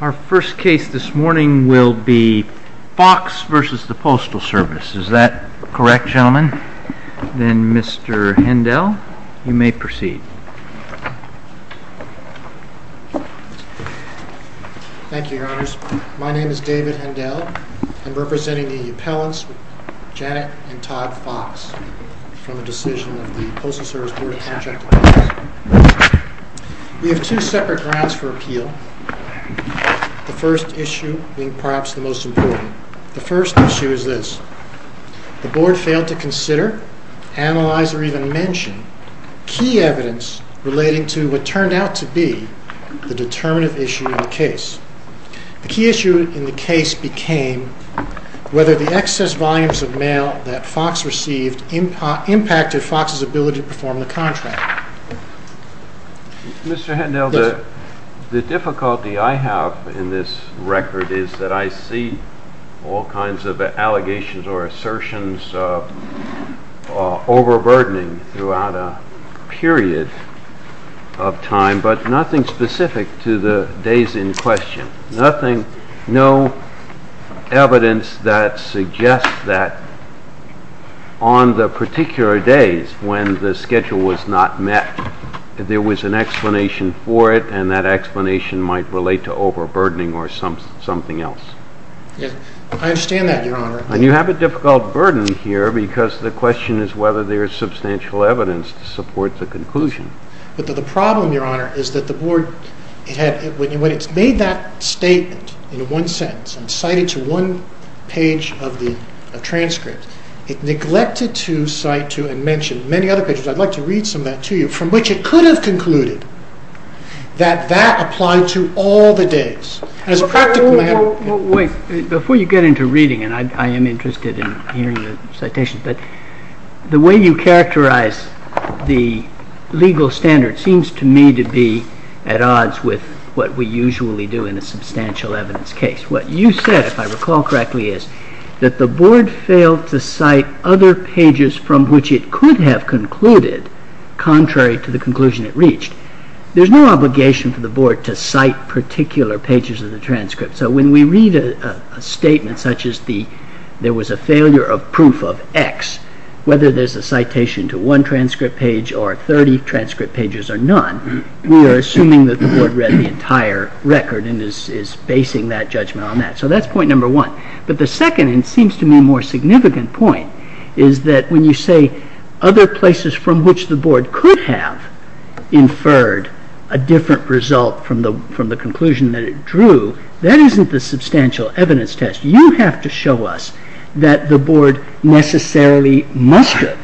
Our first case this morning will be Fox v. Postal Service. Is that correct, gentlemen? Then, Mr. Hendel, you may proceed. Thank you, Your Honors. My name is David Hendel. I'm representing the appellants, Janet and Todd Fox, from the decision of the Postal Service Board of Contractors. We have two separate grounds for appeal, the first issue being perhaps the most important. The first issue is this. The Board failed to consider, analyze, or even mention key evidence relating to what turned out to be the determinative issue in the case. The key issue in the case became whether the excess volumes of mail that Fox received impacted Fox's ability to perform the contract. Mr. Hendel, the difficulty I have in this record is that I see all kinds of allegations or assertions overburdening throughout a period of time, but nothing specific to the days in question. Nothing, no evidence that suggests that on the particular days when the schedule was not met that there was an explanation for it and that explanation might relate to overburdening or something else. I understand that, Your Honor. And you have a difficult burden here because the question is whether there is substantial evidence to support the conclusion. But the problem, Your Honor, is that the Board when it's made that statement in one sentence and cited to one page of the transcript, it neglected to cite to and mention many other pages. I'd like to read some of that to you from which it could have concluded that that applied to all the days. And as a practical matter... Wait. Before you get into reading, and I am interested in hearing the citations, but the way you characterize the legal standard seems to me to be at odds with what we usually do in a substantial evidence case. What you said, if I recall correctly, is that the Board failed to cite other pages from which it could have concluded contrary to the conclusion it reached. There's no obligation for the Board to cite particular pages of the transcript. So when we read a statement such as there was a failure of proof of X, whether there's a citation to one transcript page or 30 transcript pages or none, we are assuming that the Board read the entire record and is basing that judgment on that. So that's point number one. But the second and seems to me more significant point is that when you say other places from which the Board could have inferred a different result from the conclusion that it drew, that isn't the substantial evidence test. You have to show us that the Board necessarily must have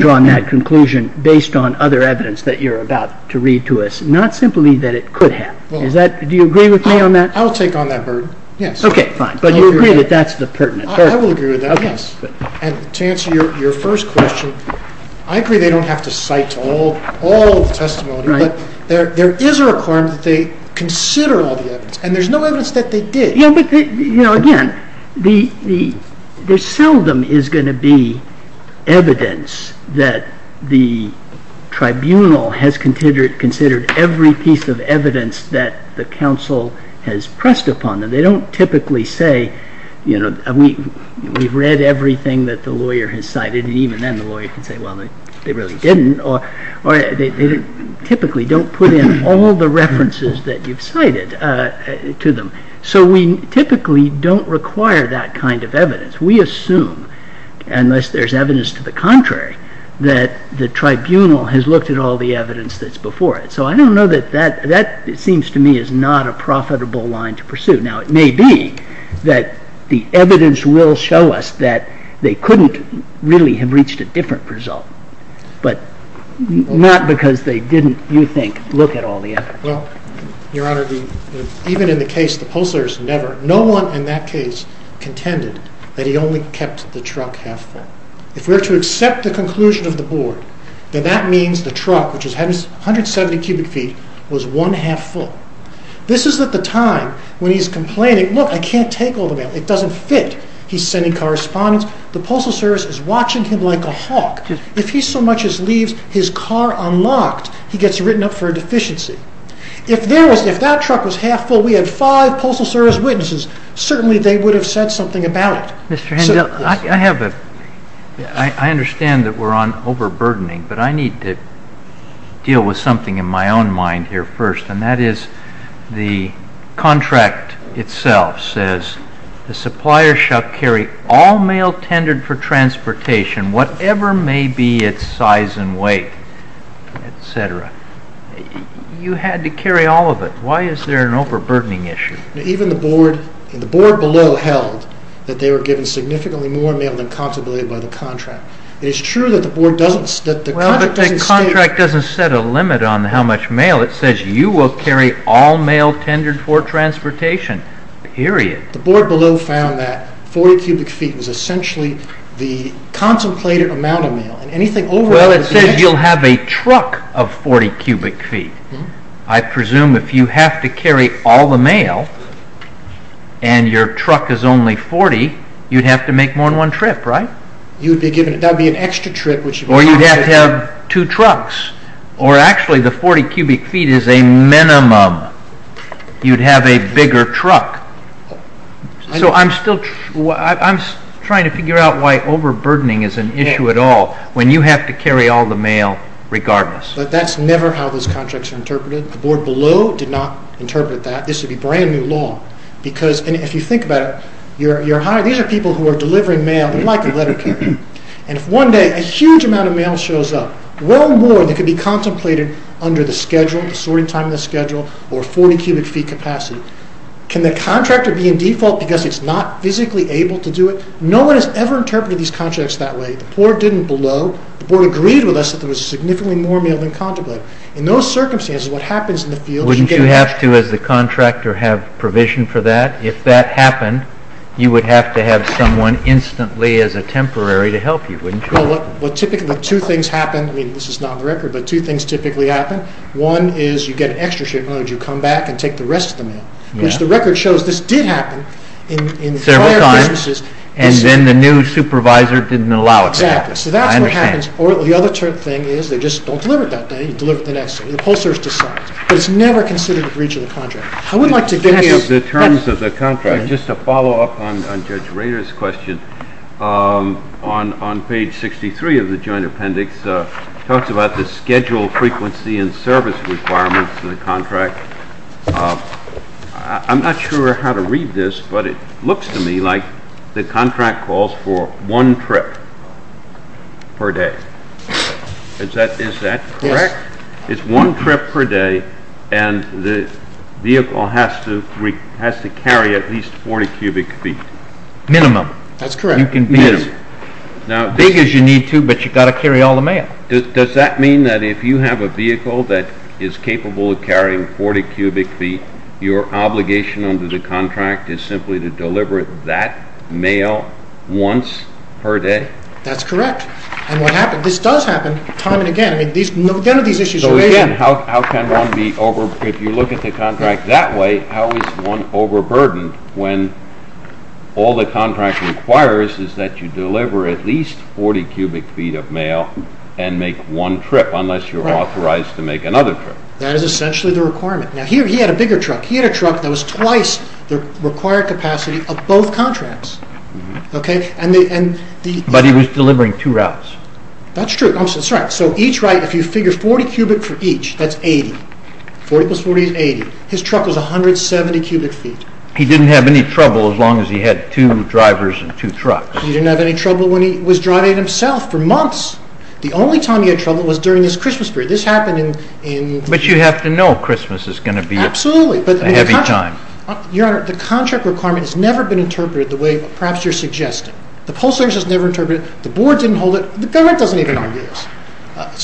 drawn that conclusion based on other evidence that you're about to read to us, not simply that it could have. Do you agree with me on that? I'll take on that burden, yes. Okay, fine. But you agree that that's the pertinent burden? I will agree with that, yes. And to answer your first question, I agree they don't have to cite all the testimony, but there is a requirement that they consider all the evidence and there's no evidence that they did. You know, again, there seldom is going to be evidence that the tribunal has considered every piece of evidence that the counsel has pressed upon them. They don't typically say, you know, we've read everything that the lawyer has cited and even then the lawyer can say, well, they really didn't. Or they typically don't put in all the references that you've cited to them. So we typically don't require that kind of evidence. We assume, unless there's evidence to the contrary, that the tribunal has looked at all the evidence that's before it. So I don't know that that, it seems to me, is not a profitable line to pursue. Now, it may be that the evidence will show us that they couldn't really have reached a different result, but not because they didn't, you think, look at all the evidence. Well, Your Honor, even in the case of the Postal Service, never, no one in that case contended that he only kept the truck half full. If we're to accept the conclusion of the board, then that means the truck, which is 170 cubic feet, was one half full. This is at the time when he's complaining, look, I can't take all the mail. It doesn't fit. He's sending correspondence. The Postal Service is watching him like a hawk. If he so much as leaves his car unlocked, he gets written up for a deficiency. If that truck was half full, we had five Postal Service witnesses, certainly they would have said something about it. Mr. Hendel, I understand that we're on overburdening, but I need to deal with something in my own mind here first, and that is the contract itself says, the supplier shall carry all mail tendered for transportation, whatever may be its size and weight, etc. You had to carry all of it. Why is there an overburdening issue? Even the board below held that they were given significantly more mail than contemplated by the contract. It is true that the contract doesn't state... Well, the contract doesn't set a limit on how much mail. It says you will carry all mail tendered for transportation, period. The board below found that 40 cubic feet was essentially the contemplated amount of mail. It says you'll have a truck of 40 cubic feet. I presume if you have to carry all the mail and your truck is only 40, you'd have to make more than one trip, right? That would be an extra trip. Or you'd have to have two trucks. Or actually the 40 cubic feet is a minimum. You'd have a bigger truck. So I'm still trying to figure out why overburdening is an issue at all when you have to carry all the mail regardless. But that's never how those contracts are interpreted. The board below did not interpret that. This would be brand new law. If you think about it, these are people who are delivering mail like a letter carrier. If one day a huge amount of mail shows up, well more than could be contemplated under the sorting time of the schedule or 40 cubic feet capacity, can the contractor be in default because it's not physically able to do it? No one has ever interpreted these contracts that way. The board didn't below. The board agreed with us that there was significantly more mail than contemplated. In those circumstances, what happens in the field... Wouldn't you have to, as the contractor, have provision for that? If that happened, you would have to have someone instantly as a temporary to help you, wouldn't you? Well, typically two things happen. I mean, this is not on the record, but two things typically happen. One is you get an extra shipment and you come back and take the rest of the mail, which the record shows this did happen in prior businesses... Several times, and then the new supervisor didn't allow it to happen. Exactly. So that's what happens. Or the other thing is they just don't deliver it that day, you deliver it the next day. The post service decides. But it's never considered a breach of the contract. I would like to give you... In terms of the contract, just to follow up on Judge Rader's question, on page 63 of the joint appendix talks about the schedule frequency and service requirements of the contract. I'm not sure how to read this, but it looks to me like the contract calls for one trip per day. Is that correct? Yes. It's one trip per day and the vehicle has to carry at least 40 cubic feet. Minimum. That's correct. You can be as big as you need to, but you've got to carry all the mail. Does that mean that if you have a vehicle that is capable of carrying 40 cubic feet, your obligation under the contract is simply to deliver that mail once per day? That's correct. And what happens, this does happen time and again. None of these issues are the same. How can one be over... If you look at the contract that way, how is one overburdened when all the contract requires is that you deliver at least 40 cubic feet of mail and make one trip unless you are authorized to make another trip? That is essentially the requirement. He had a bigger truck. He had a truck that was twice the required capacity of both contracts. But he was delivering two routes. That's true. Each route, if you figure 40 cubic for each, that's 80. 40 plus 40 is 80. His truck was 170 cubic feet. He didn't have any trouble as long as he had two drivers and two trucks. He didn't have any trouble when he was driving it himself for months. The only time he had trouble was during his Christmas period. This happened in... But you have to know Christmas is going to be... Absolutely. ...a heavy time. Your Honor, the contract requirement has never been interpreted the way perhaps you're suggesting. The post office has never interpreted it. The board didn't hold it. The government doesn't even hold deals.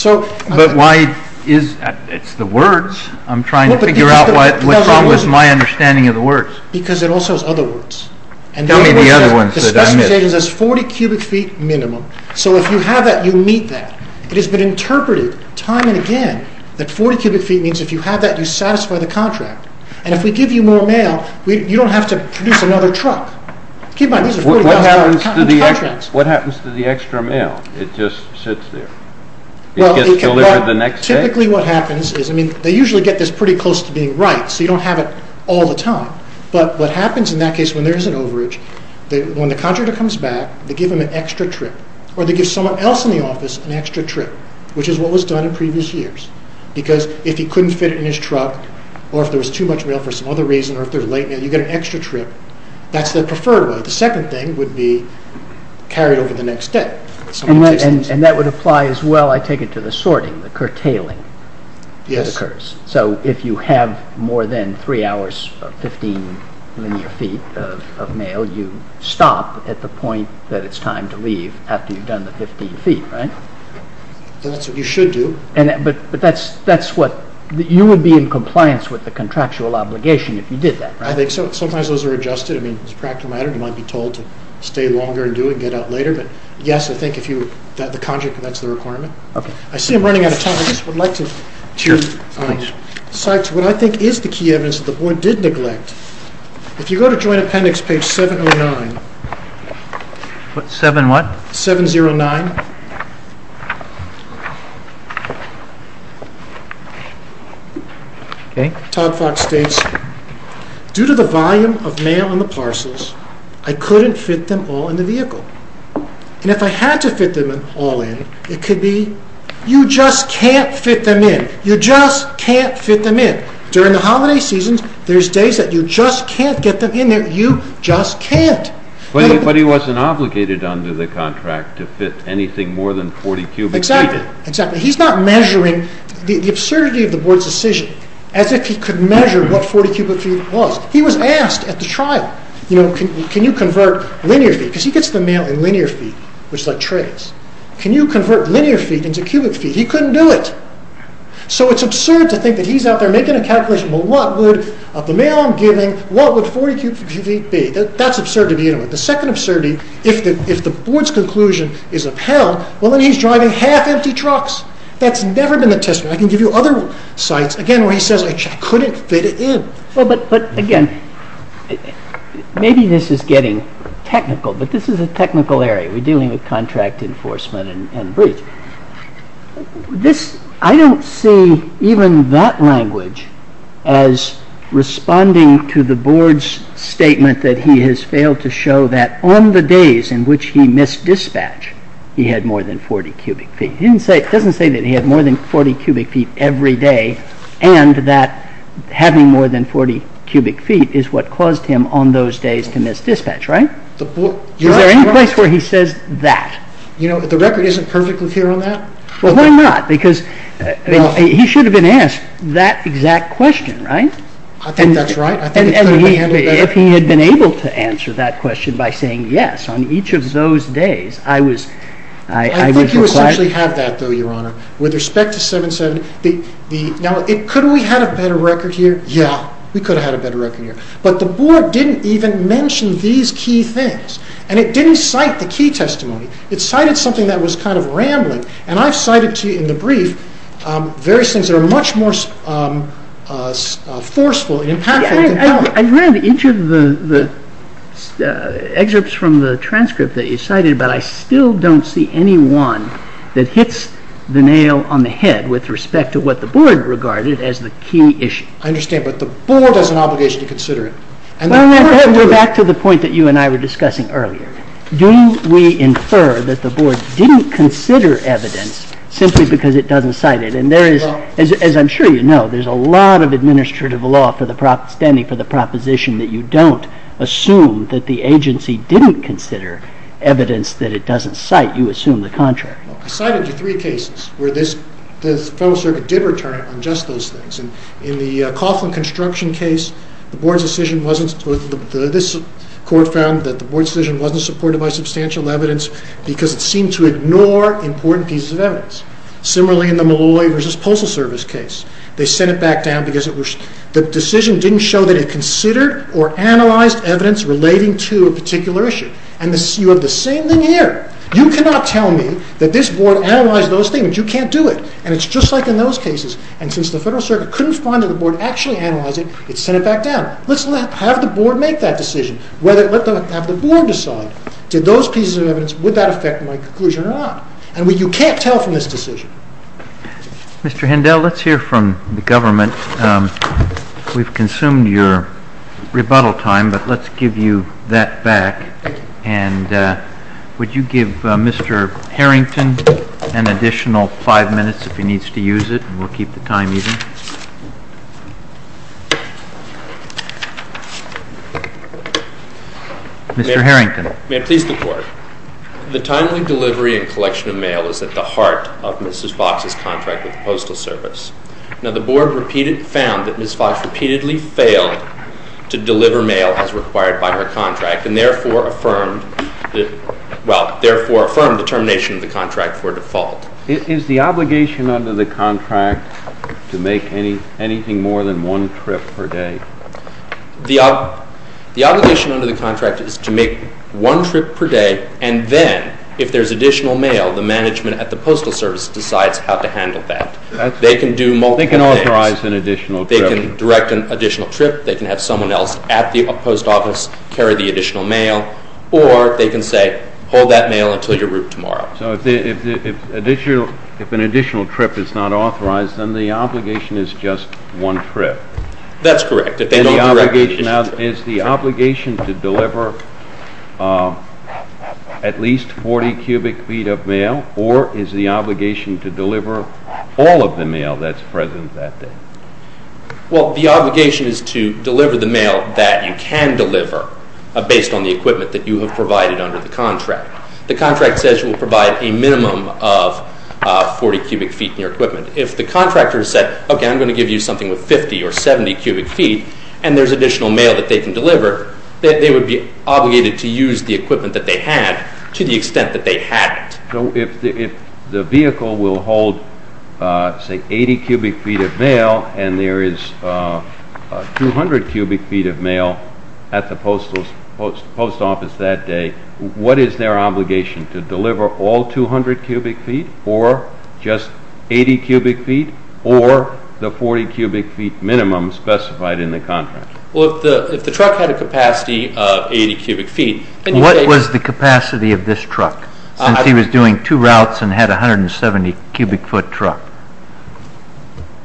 But why is... It's the words. I'm trying to figure out what's wrong with my understanding of the words. Because it also has other words. Tell me the other ones that I missed. The specification says 40 cubic feet minimum. So if you have that, you meet that. It has been interpreted time and again that 40 cubic feet means if you have that, you satisfy the contract. And if we give you more mail, you don't have to produce another truck. Keep in mind, these are 40,000-pound contracts. What happens to the extra mail? It just sits there? It gets delivered the next day? Well, typically what happens is... I mean, they usually get this pretty close to being right, so you don't have it all the time. But what happens in that case when there is an overage, when the contractor comes back, they give him an extra trip. Or they give someone else in the office an extra trip, which is what was done in previous years. Because if he couldn't fit it in his truck, or if there was too much mail for some other reason, or if there was late mail, you get an extra trip. That's the preferred way. The second thing would be carried over the next day. And that would apply as well, I take it, to the sorting, the curtailing that occurs. So if you have more than three hours of 15 linear feet of mail, you stop at the point that it's time to leave after you've done the 15 feet, right? That's what you should do. But that's what, you would be in compliance with the contractual obligation if you did that, right? I think so. Sometimes those are adjusted. I mean, it's a practical matter. You might be told to stay longer and do it and get out later. But yes, I think if you, the contract, that's the requirement. Okay. I see I'm running out of time. I just would like to to cite what I think is the key evidence that the board did neglect. If you go to Joint Appendix, page 709, 7 what? 709. Okay. Todd Fox states, due to the volume of mail in the parcels, I couldn't fit them all in the vehicle. And if I had to fit them all in, it could be, you just can't fit them in. You just can't fit them in. During the holiday seasons, there's days that you just can't get them in there. You just can't. But he wasn't obligated under the contract to fit anything more than 40 cubic feet in. Exactly. He's not measuring, the absurdity of the board's decision, as if he could measure what 40 cubic feet was. He was asked at the trial, you know, can you convert linear feet? Because he gets the mail in linear feet, which is like trays. Can you convert linear feet into cubic feet? He couldn't do it. So it's absurd to think that he's out there making a calculation, well what would, of the mail I'm giving, what would 40 cubic feet be? That's absurd to begin with. The second absurdity, if the board's conclusion is upheld, well then he's driving half empty trucks. That's never been the testimony. I can give you other sites, again where he says, I couldn't fit it in. But again, maybe this is getting technical, but this is a technical area. We're dealing with contract enforcement and breach. This, I don't see even that language as responding to the board's statement that he has failed to show that on the days in which he missed dispatch, he had more than 40 cubic feet. It doesn't say that he had more than 40 cubic feet every day, and that having more than 40 cubic feet is what caused him on those days to miss dispatch, right? Is there any place where he says that? You know, the record isn't perfect with you on that? Well why not? Because he should have been asked that exact question, right? I think that's right. And if he had been able to answer that question by saying yes on each of those days, I would require... I think you essentially have that though, Your Honor, with respect to 770. Now, could we have had a better record here? Yeah, we could have had a better record here. But the board didn't even mention these key things, and it didn't cite the key testimony. It cited something that was kind of rambling, and I've cited to you in the brief various things that are much more forceful and impactful... I've read each of the excerpts from the transcript that you cited, but I still don't see any one that hits the nail on the head with respect to what the board regarded as the key issue. I understand, but the board has an obligation to consider it. Well, back to the point that you and I were discussing earlier. Do we infer that the board didn't consider evidence simply because it doesn't cite it? And there is, as I'm sure you know, there's a lot of administrative law standing for the proposition that you don't assume that the agency didn't consider evidence that it doesn't cite. You assume the contrary. I cited you three cases where the Federal Circuit did return on just those things. In the Coughlin construction case, the board's decision wasn't... this court found that the board's decision wasn't supported by substantial evidence because it seemed to ignore important pieces of evidence. Similarly, in the Malloy v. Postal Service case, they sent it back down because the decision didn't show that it considered or analyzed evidence relating to a particular issue. And you have the same thing here. You cannot tell me that this board analyzed those things. You can't do it. And it's just like in those cases. And since the Federal Circuit couldn't find that the board actually analyzed it, it sent it back down. Let's have the board make that decision. Let the board decide. Did those pieces of evidence... would that affect my conclusion or not? And you can't tell from this decision. Mr. Hindell, let's hear from the government We've consumed your rebuttal time, but let's give you that back. And would you give Mr. Harrington an additional five minutes if he needs to use it, and we'll keep the time even? Mr. Harrington. May I please the court? The timely delivery and collection of mail is at the heart of Mrs. Fox's contract with the Postal Service. Now, the board repeated... found that Mrs. Fox repeatedly failed to deliver mail as required by her contract, and therefore affirmed... well, therefore affirmed the termination of the contract for default. Is the obligation under the contract to make anything more than one trip per day? The obligation under the contract is to make one trip per day, and then, if there's additional mail, the management at the Postal Service decides how to handle that. They can do multiple things. They can authorize an additional trip. They can direct an additional trip, they can have someone else at the post office carry the additional mail, or they can say, hold that mail until your route tomorrow. So if an additional trip is not authorized, then the obligation is just one trip? That's correct. Is the obligation to deliver at least 40 cubic feet of mail, or is the obligation to deliver all of the mail that's present that day? Well, the obligation is to deliver the mail that you can deliver based on the equipment that you have provided under the contract. The contract says you will provide a minimum of 40 cubic feet in your equipment. If the contractor said, okay, I'm going to give you something with 50 or 70 cubic feet, and there's additional mail that they can deliver, they would be obligated to use the equipment that they had to the extent that they hadn't. So if the vehicle will hold, say, 80 cubic feet of mail, and there is 200 cubic feet of mail at the post office that day, what is their obligation? To deliver all 200 cubic feet, or just 80 cubic feet, or the 40 cubic feet minimum specified in the contract? Well, if the truck had a capacity of 80 cubic feet... What was the capacity of this truck since he was doing two routes and had a 170 cubic foot truck?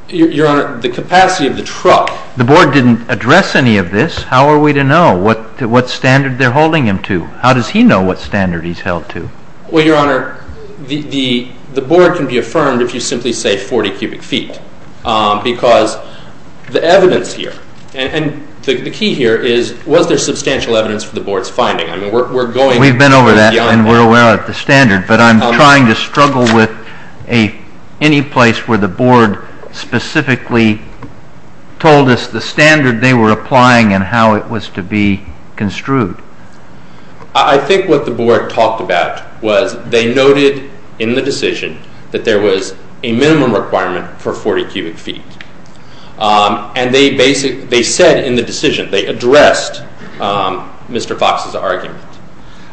Your Honor, the capacity of the truck... The Board didn't address any of this. How are we to know what standard they're holding him to? How does he know what standard he's held to? Well, Your Honor, the Board can be affirmed if you simply say 40 cubic feet because the evidence here, and the key here is, was there substantial evidence for the Board's finding? I mean, we're going... We've been over that and we're aware of the standard, but I'm trying to struggle with any place where the Board specifically told us the standard they were applying and how it was to be construed. I think what the Board talked about was they noted in the decision that there was a minimum requirement for 40 cubic feet. And they said in the decision, they addressed Mr. Fox's argument,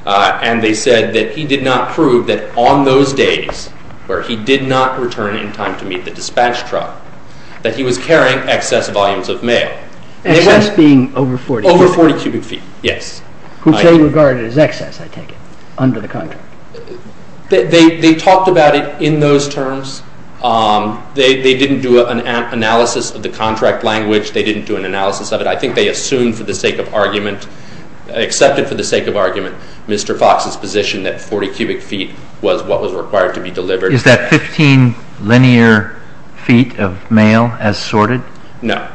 and they said that he did not prove that on those days where he did not return in time to meet the dispatch truck, that he was carrying excess volumes of mail. Excess being over 40 cubic feet? Over 40 cubic feet, yes. Which they regarded as excess, I take it, under the contract. They talked about it in those terms. They didn't do an analysis of the contract language. They didn't do an analysis of it. I think they assumed for the sake of argument, accepted for the sake of argument, Mr. Fox's position that 40 cubic feet was what was required to be delivered. Is that 15 linear feet of mail as sorted? No.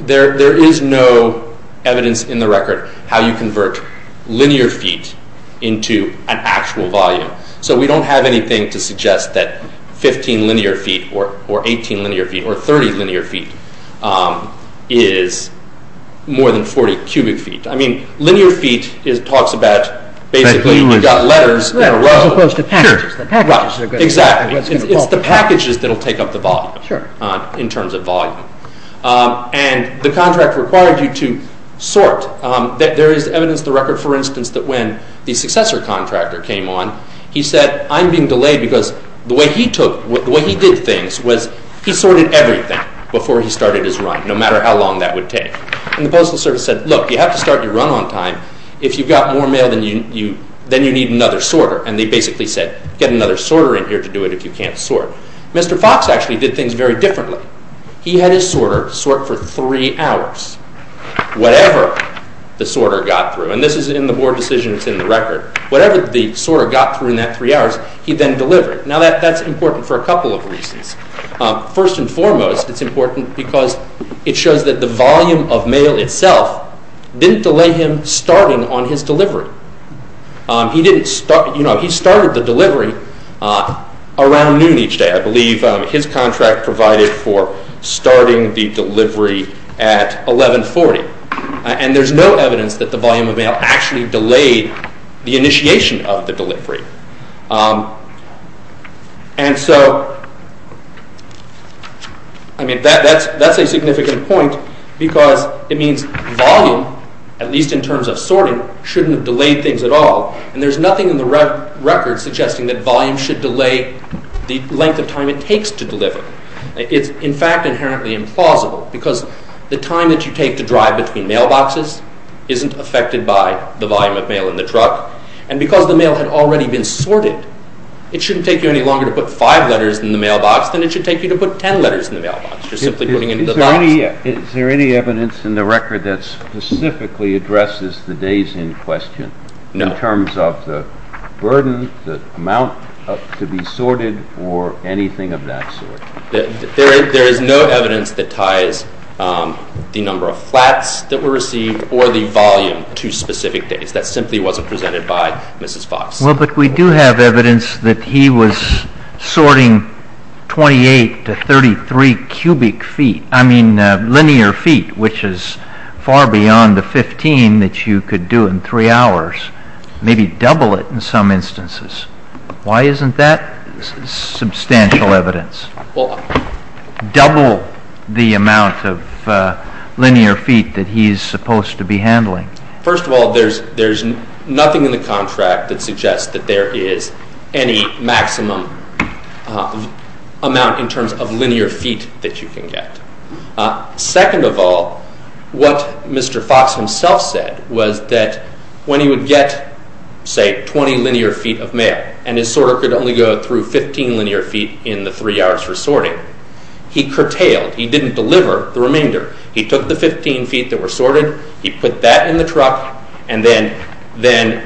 There is no evidence in the record how you convert linear feet into an actual volume. So we don't have anything to suggest that 15 linear feet or 18 linear feet or 30 linear feet is more than 40 cubic feet. I mean, linear feet talks about basically you've got letters in a row. As opposed to packages. Exactly. It's the packages that will take up the volume in terms of volume. And the contract required you to sort. There is evidence in the record, for instance, that when the successor contractor came on, he said, I'm being delayed because the way he did things was he sorted everything before he started his run, no matter how long that would take. And the Postal Service said, look, you have to start your run on time. If you've got more mail, then you need another sorter. And they basically said, get another sorter in here to do it if you can't sort. Mr. Fox actually did things very differently. He had his sorter sort for three hours whatever the sorter got through. And this is in the board decision. It's in the record. Whatever the sorter got through in that three hours, he then delivered. Now that's important for a couple of reasons. First and foremost, it's important because it shows that the volume of mail itself didn't delay him starting on his delivery. He started the delivery around noon each day. I believe his contract provided for starting the delivery at 1140. And there's no evidence that the volume of mail actually delayed the initiation of the delivery. And so, I mean, that's a significant point because it means volume, at least in terms of sorting, shouldn't have delayed things at all. And there's nothing in the record suggesting that volume should delay the length of time it takes to deliver. It's in fact inherently implausible because the time that you take to drive between mailboxes isn't affected by the volume of mail in the truck. And because the mail had already been sorted, it shouldn't take you any longer to put five letters in the mailbox than it should take you to put ten letters in the mailbox for simply putting in the box. Is there any evidence in the record that specifically addresses the days in question? No. In terms of the burden, the amount to be sorted, or anything of that sort? There is no evidence that ties the number of flats that were received or the volume to specific days. That simply wasn't presented by Mrs. Fox. Well, but we do have evidence that he was sorting 28 to 33 cubic feet. I mean linear feet, which is far beyond the 15 that you could do in three hours. Maybe double it in some instances. Why isn't that substantial evidence? Double the amount of linear feet that he's supposed to be handling. First of all, there's nothing in the contract that suggests that there is any maximum amount in terms of linear feet that you can get. Second of all, what Mr. Fox himself said was that when he would get, say, 20 linear feet of mail and his sorter could only go through 15 linear feet in the three hours for sorting, he curtailed, he didn't deliver the remainder. He took the 15 feet that were sorted, he put that in the truck, and then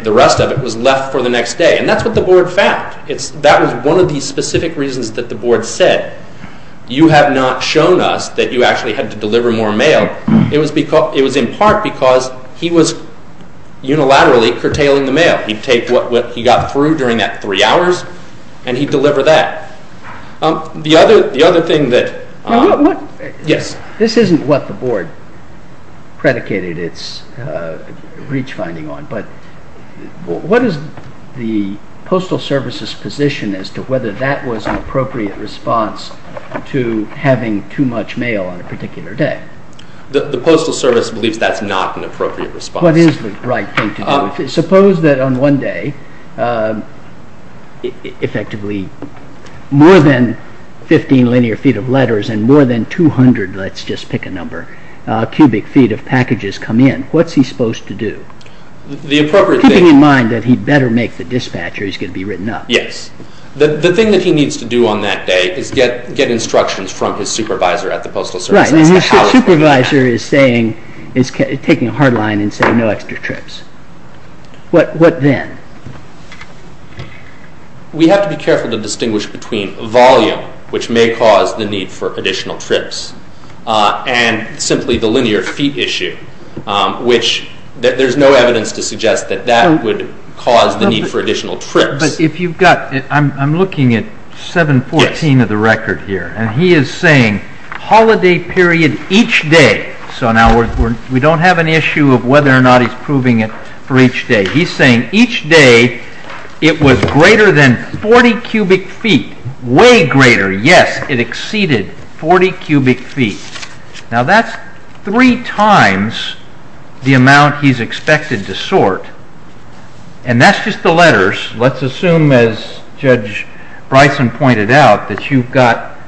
the rest of it was left for the next day. And that's what the board found. That was one of the specific reasons that the board said, you have not shown us that you actually had to deliver more mail. It was in part because he was unilaterally curtailing the mail. He'd take what he got through during that three hours and he'd deliver that. The other thing that... Yes. This isn't what the board predicated its breach finding on, but what is the Postal Service's position as to whether that was an appropriate response to having too much mail on a particular day? The Postal Service believes that's not an appropriate response. What is the right thing to do? Suppose that on one day effectively more than 15 linear feet of letters and more than 200, let's just pick a number, cubic feet of packages come in. What's he supposed to do? The appropriate thing... Keeping in mind that he better make the dispatch or he's going to be written up. Yes. The thing that he needs to do on that day is get instructions from his supervisor at the Postal Service. Right, and his supervisor is saying, is taking a hard line and saying no extra trips. What then? We have to be careful to distinguish between volume, which may cause the need for additional trips, and simply the linear feet issue, which there's no evidence to suggest that that would cause the need for additional trips. But if you've got... I'm looking at 714 of the record here, and he is saying holiday period each day. So now we don't have an issue of whether or not he's proving it for each day. He's saying each day it was greater than 40 cubic feet, way greater. Yes, it exceeded 40 cubic feet. Now that's three times the amount he's expected to sort. And that's just the letters. Let's assume, as Judge Bryson pointed out, that you've got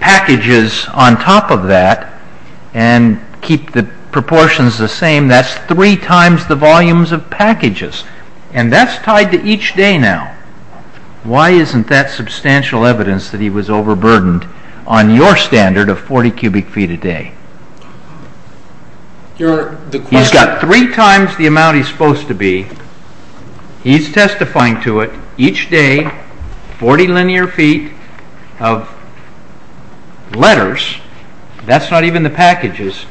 packages on top of that and keep the proportions the same. That's three times the volumes of packages. And that's tied to each day now. Why isn't that substantial evidence that he was overburdened on your standard of 40 cubic feet a day? Your Honor, the question... He's got three times the amount he's supposed to be. He's testifying to it. Each day, 40 linear feet of letters. That's not even the packages.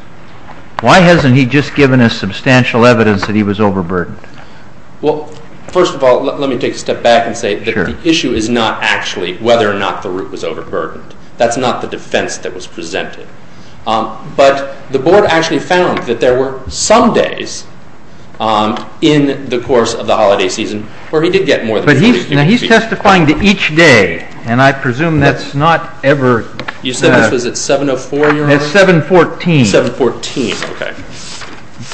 Why hasn't he just given us substantial evidence that he was overburdened? Well, first of all, let me take a step back and say that the issue is not actually whether or not the route was overburdened. That's not the defense that was presented. But the Board actually found that there were some days in the course of the holiday season where he did get more than 40 cubic feet. But he's testifying to each day, and I presume that's not ever... You said this was at 7.04, Your Honor? At 7.14. 7.14, okay.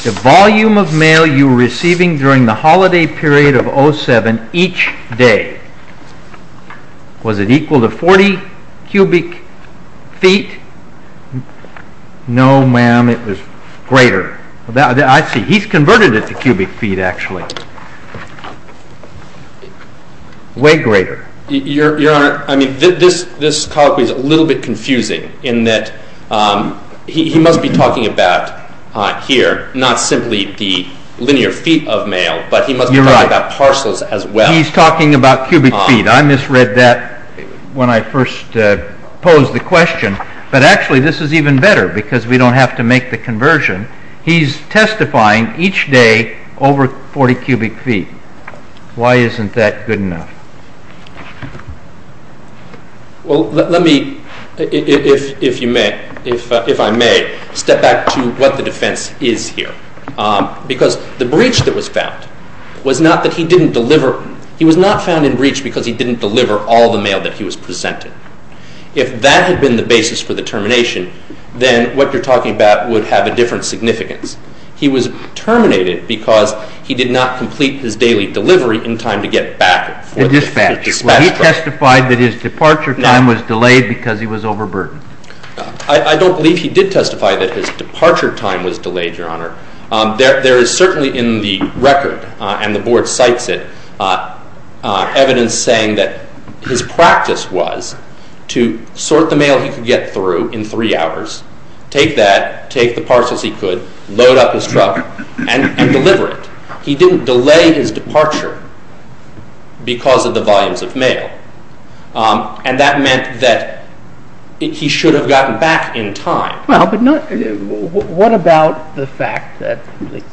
The volume of mail you were receiving during the holiday period of 07 each day was it equal to 40 cubic feet? No, ma'am, it was greater. I see. He's converted it to cubic feet, actually. Way greater. Your Honor, this colloquy is a little bit confusing in that he must be talking about here not simply the linear feet of mail, but he must be talking about parcels as well. He's talking about cubic feet. I misread that when I first posed the question. But actually, this is even better because we don't have to make the conversion. He's testifying each day over 40 cubic feet. Why isn't that good enough? Well, let me, if I may, step back to what the defense is here. Because the breach that was found was not that he didn't deliver, he was not found in breach because he didn't deliver all the mail that he was presented. If that had been the basis for the termination, then what you're talking about would have a different significance. He was terminated because he did not complete his daily delivery in time to get back it. The dispatcher. He testified that his departure time was delayed because he was overburdened. I don't believe he did testify that his departure time was delayed, Your Honor. There is certainly in the record, and the Board cites it, evidence saying that his practice was to sort the mail he could get through in three hours, take that, take the parcels he could, load up his truck, and deliver it. He didn't delay his departure because of the volumes of mail. And that meant that he should have gotten back in time. What about the fact that it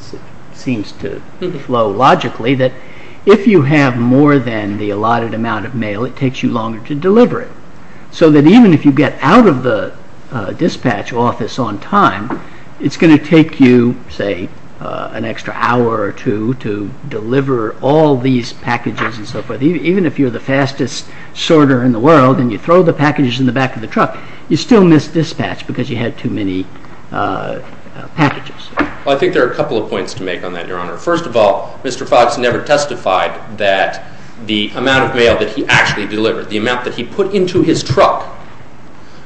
seems to flow logically that if you have more than the allotted amount of mail, it takes you longer to deliver it. So that even if you get out of the dispatch office on time, it's going to take you, say, an extra hour or two to deliver all these packages and so forth. Even if you're the fastest sorter in the world and you throw the packages in the back of the truck, you still miss dispatch because you had too many packages. Well, I think there are a couple of points to make on that, Your Honor. First of all, Mr. Fox never testified that the amount of mail that he actually delivered, the amount that he put into his truck,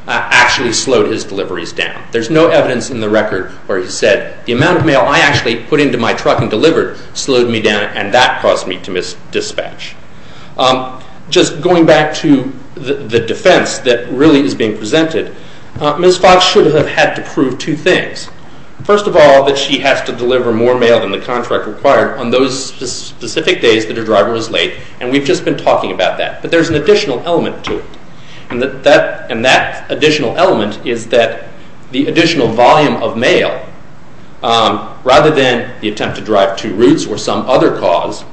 actually slowed his deliveries down. There's no evidence in the record where he said, the amount of mail I actually put into my truck and delivered slowed me down and that caused me to miss dispatch. Just going back to the defense that really is being presented, Ms. Fox should have had to prove two things. First of all, that she has to deliver more mail than the contract required on those specific days that her driver was late and we've just been talking about that. But there's an additional element to it and that additional element is that the additional volume of mail, rather than the attempt to drive two routes or some other cause,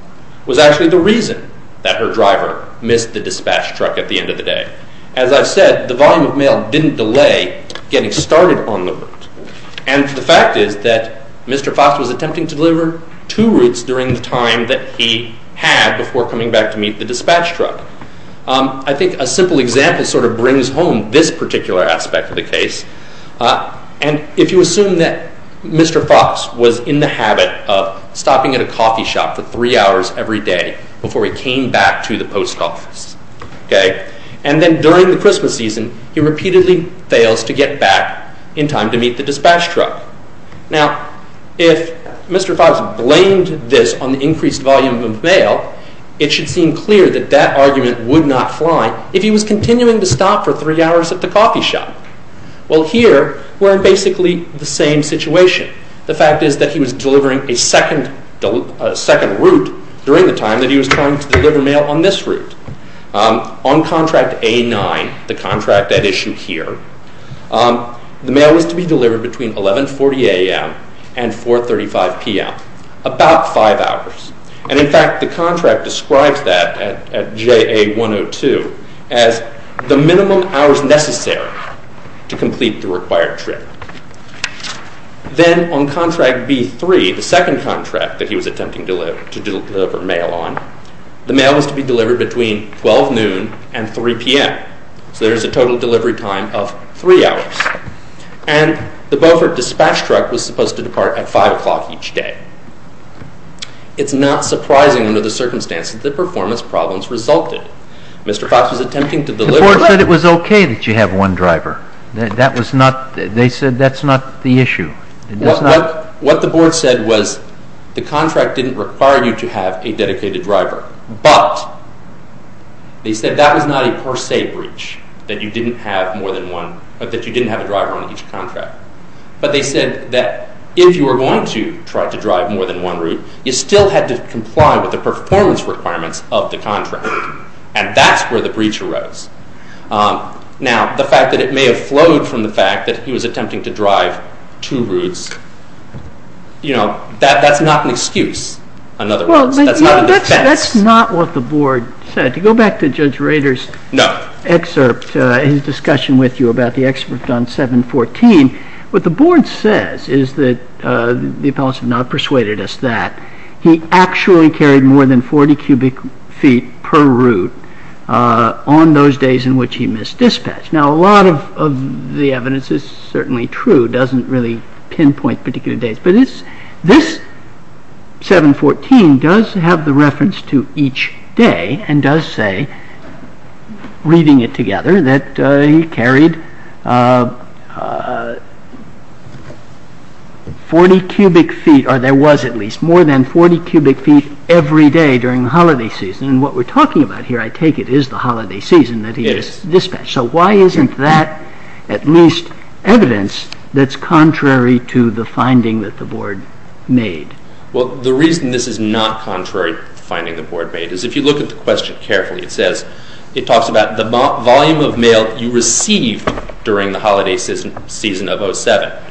was actually the reason that her driver missed the dispatch truck at the end of the day. As I've said, the volume of mail didn't delay getting started on the route. And the fact is that Mr. Fox was attempting to deliver two routes during the time that he had before coming back to meet the dispatch truck. I think a simple example sort of brings home this particular aspect of the case. And if you assume that Mr. Fox was in the habit of stopping at a coffee shop for three hours every day before he came back to the post office, and then during the Christmas season he repeatedly fails to get back in time to meet the dispatch truck. Now, if Mr. Fox blamed this on the increased volume of mail, it should seem clear that that argument would not fly if he was continuing to stop for three hours at the coffee shop. Well, here we're in basically the same situation. The fact is that he was delivering a second route during the time that he was trying to deliver mail on this route. On contract A-9, the contract at issue here, the mail was to be delivered between 11.40 a.m. and 4.35 p.m., about five hours. And in fact, the contract describes that at JA-102 as the minimum hours necessary to complete the required trip. Then on contract B-3, the second contract that he was attempting to deliver mail on, the mail was to be delivered between 12.00 noon and 3.00 p.m. So there's a total delivery time of three hours. And the Beaufort dispatch truck was supposed to depart at 5.00 each day. It's not surprising under the circumstances that the performance problems resulted. Mr. Fox was attempting to deliver... The board said it was okay that you have one driver. That was not... they said that's not the issue. What the board said was the contract didn't require you to have a dedicated driver, but they said that was not a per se breach, that you didn't have more than one... that you didn't have a driver on each contract. But they said that if you were going to try to drive more than one route, you still had to comply with the performance requirements of the contract. And that's where the breach arose. Now, the fact that it may have flowed from the fact that he was attempting to drive two routes, you know, that's not an excuse, in other words. That's not a defense. Well, that's not what the board said. To go back to Judge Rader's excerpt, his discussion with you about the excerpt on 7.14, what the board says is that... the appellants have not persuaded us that he actually carried more than 40 cubic feet per route on those days in which he missed dispatch. Now, a lot of the evidence is certainly true, doesn't really pinpoint particular days. But this 7.14 does have the reference to each day and does say, reading it together, that he carried 40 cubic feet, or there was at least, more than 40 cubic feet every day during the holiday season. And what we're talking about here, I take it, is the holiday season that he missed dispatch. So why isn't that at least evidence that's contrary to the finding that the board made? Well, the reason this is not contrary to the finding the board made is if you look at the question carefully, it says, it talks about the volume of mail you received during the holiday season of 07.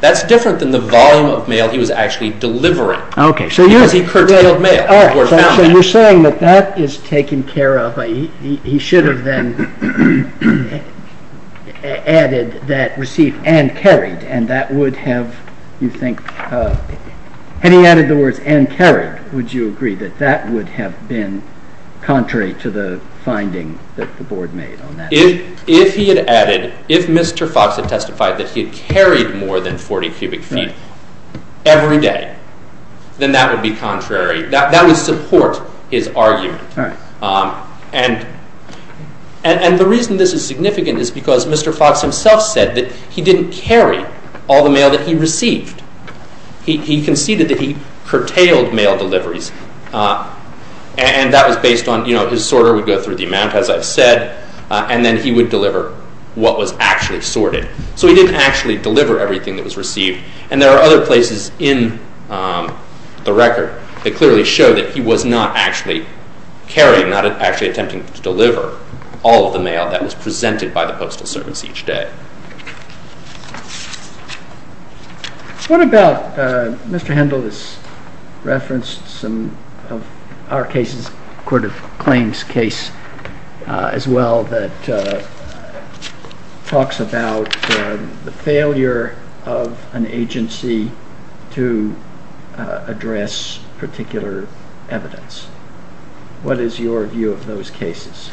That's different than the volume of mail he was actually delivering. Okay, so you're... Because he curtailed mail. All right, so you're saying that that is taken care of. He should have then added that received and carried, and that would have, you think... Had he added the words and carried, would you agree that that would have been contrary to the finding that the board made on that? If he had added, if Mr. Fox had testified that he had carried more than 40 cubic feet every day, then that would be contrary. That would support his argument. All right. And the reason this is significant is because Mr. Fox himself said that he didn't carry all the mail that he received. He conceded that he curtailed mail deliveries, and that was based on, you know, his sorter would go through the amount, as I've said, and then he would deliver what was actually sorted. So he didn't actually deliver everything that was received. And there are other places in the record that clearly show that he was not actually carrying, not actually attempting to deliver, all of the mail that was presented by the postal service each day. What about, Mr. Hendel has referenced some of our cases, the Court of Claims case as well, that talks about the failure of an agency to address particular evidence. What is your view of those cases?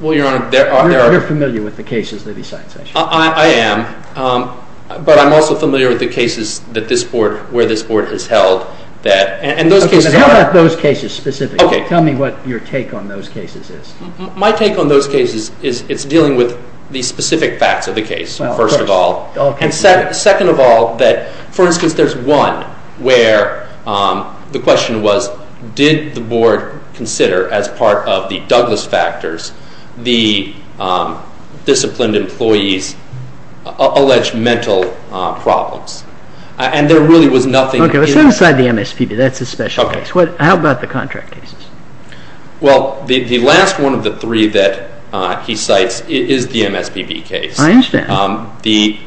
Well, Your Honor, there are... You're familiar with the cases that he cites, aren't you? I am, but I'm also familiar with the cases that this board, where this board has held that... Okay, but how about those cases specifically? Tell me what your take on those cases is. My take on those cases is Well, of course. And second of all, that for instance, there's one where the question was, did the board consider as part of the Douglas factors the disciplined employees' alleged mental problems? And there really was nothing... Okay, but set aside the MSPB, that's a special case. How about the contract cases? Well, the last one of the three that he cites is the MSPB case. I understand. The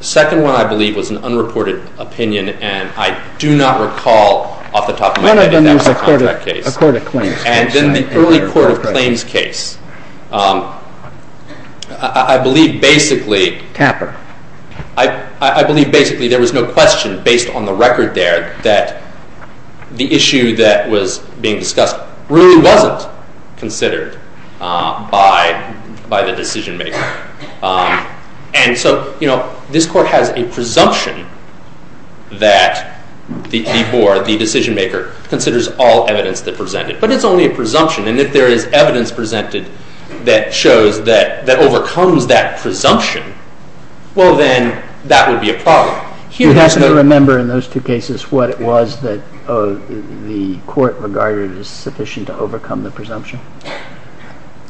second one, I believe, was an unreported opinion, and I do not recall off the top of my head it was a contract case. And then the early court of claims case. I believe basically... Tapper. I believe basically there was no question based on the record there that the issue that was being discussed really wasn't considered by the decision maker. And so, you know, this court has a presumption that the board, the decision maker, considers all evidence that presented. But it's only a presumption, and if there is evidence presented that shows that, that overcomes that presumption, well then, that would be a problem. You have to remember in those two cases what it was that the court regarded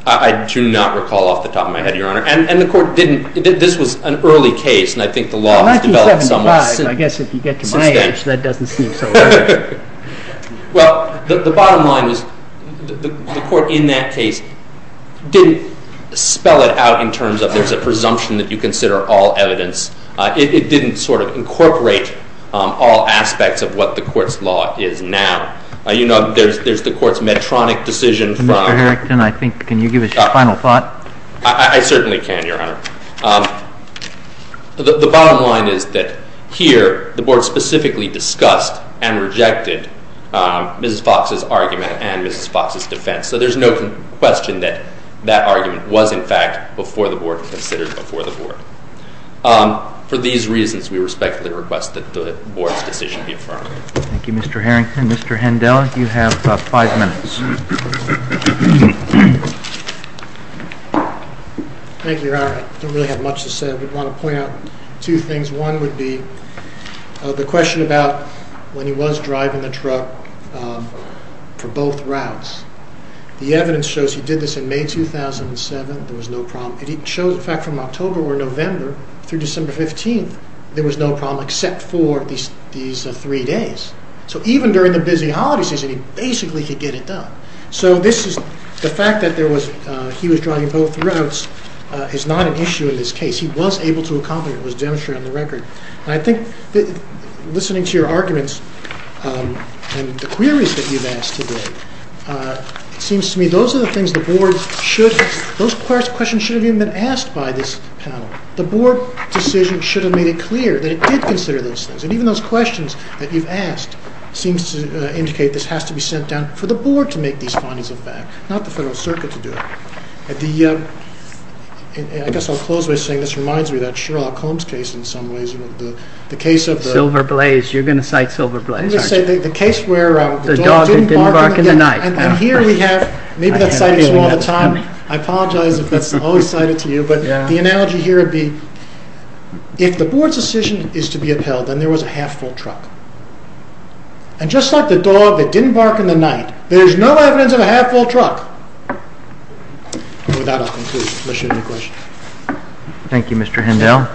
I do not recall off the top of my head, Your Honor. And the court didn't... This was an early case, and I think the law has developed somewhat since then. In 1975, and I guess if you get to my age, that doesn't seem so long ago. Well, the bottom line is the court in that case didn't spell it out in terms of there's a presumption that you consider all evidence. It didn't sort of incorporate all aspects of what the court's law is now. You know, there's the court's Medtronic decision... Mr. Harrington, I think, can you give us your final thought? I certainly can, Your Honor. The bottom line is that here, the board specifically discussed and rejected Mrs. Fox's argument and Mrs. Fox's defense. So there's no question that that argument was in fact before the board, considered before the board. For these reasons, we respectfully request that the board's decision be affirmed. Thank you, Mr. Harrington. Mr. Hendel, you have five minutes. Thank you, Your Honor. I don't really have much to say. I want to point out two things. One would be the question about when he was driving the truck for both routes. The evidence shows he did this in May 2007. There was no problem. It shows, in fact, from October or November through December 15th, there was no problem except for these three days. So even during the busy holiday season, he basically could get it done. So this is... The fact that he was driving both routes is not an issue in this case. He was able to accomplish it. It was demonstrated on the record. I think listening to your arguments and the queries that you've asked today, it seems to me those are the things the board should... Those questions shouldn't have even been asked by this panel. The board decision should have made it clear that it did consider those things. And even those questions that you've asked seems to indicate this has to be sent down for the board to make these findings of fact, not the Federal Circuit to do it. The... I guess I'll close by saying this reminds me of that Sherlock Holmes case in some ways. The case of the... Silver Blaze. You're going to cite Silver Blaze, aren't you? The case where... The dog that didn't bark in the night. And here we have... Maybe that's cited to you all the time. I apologize if that's always cited to you. But the analogy here would be if the board's decision is to be upheld and there was a half-full truck, and just like the dog that didn't bark in the night, there's no evidence of a half-full truck. And with that, I'll conclude. Unless you have any questions. Thank you, Mr. Hindell.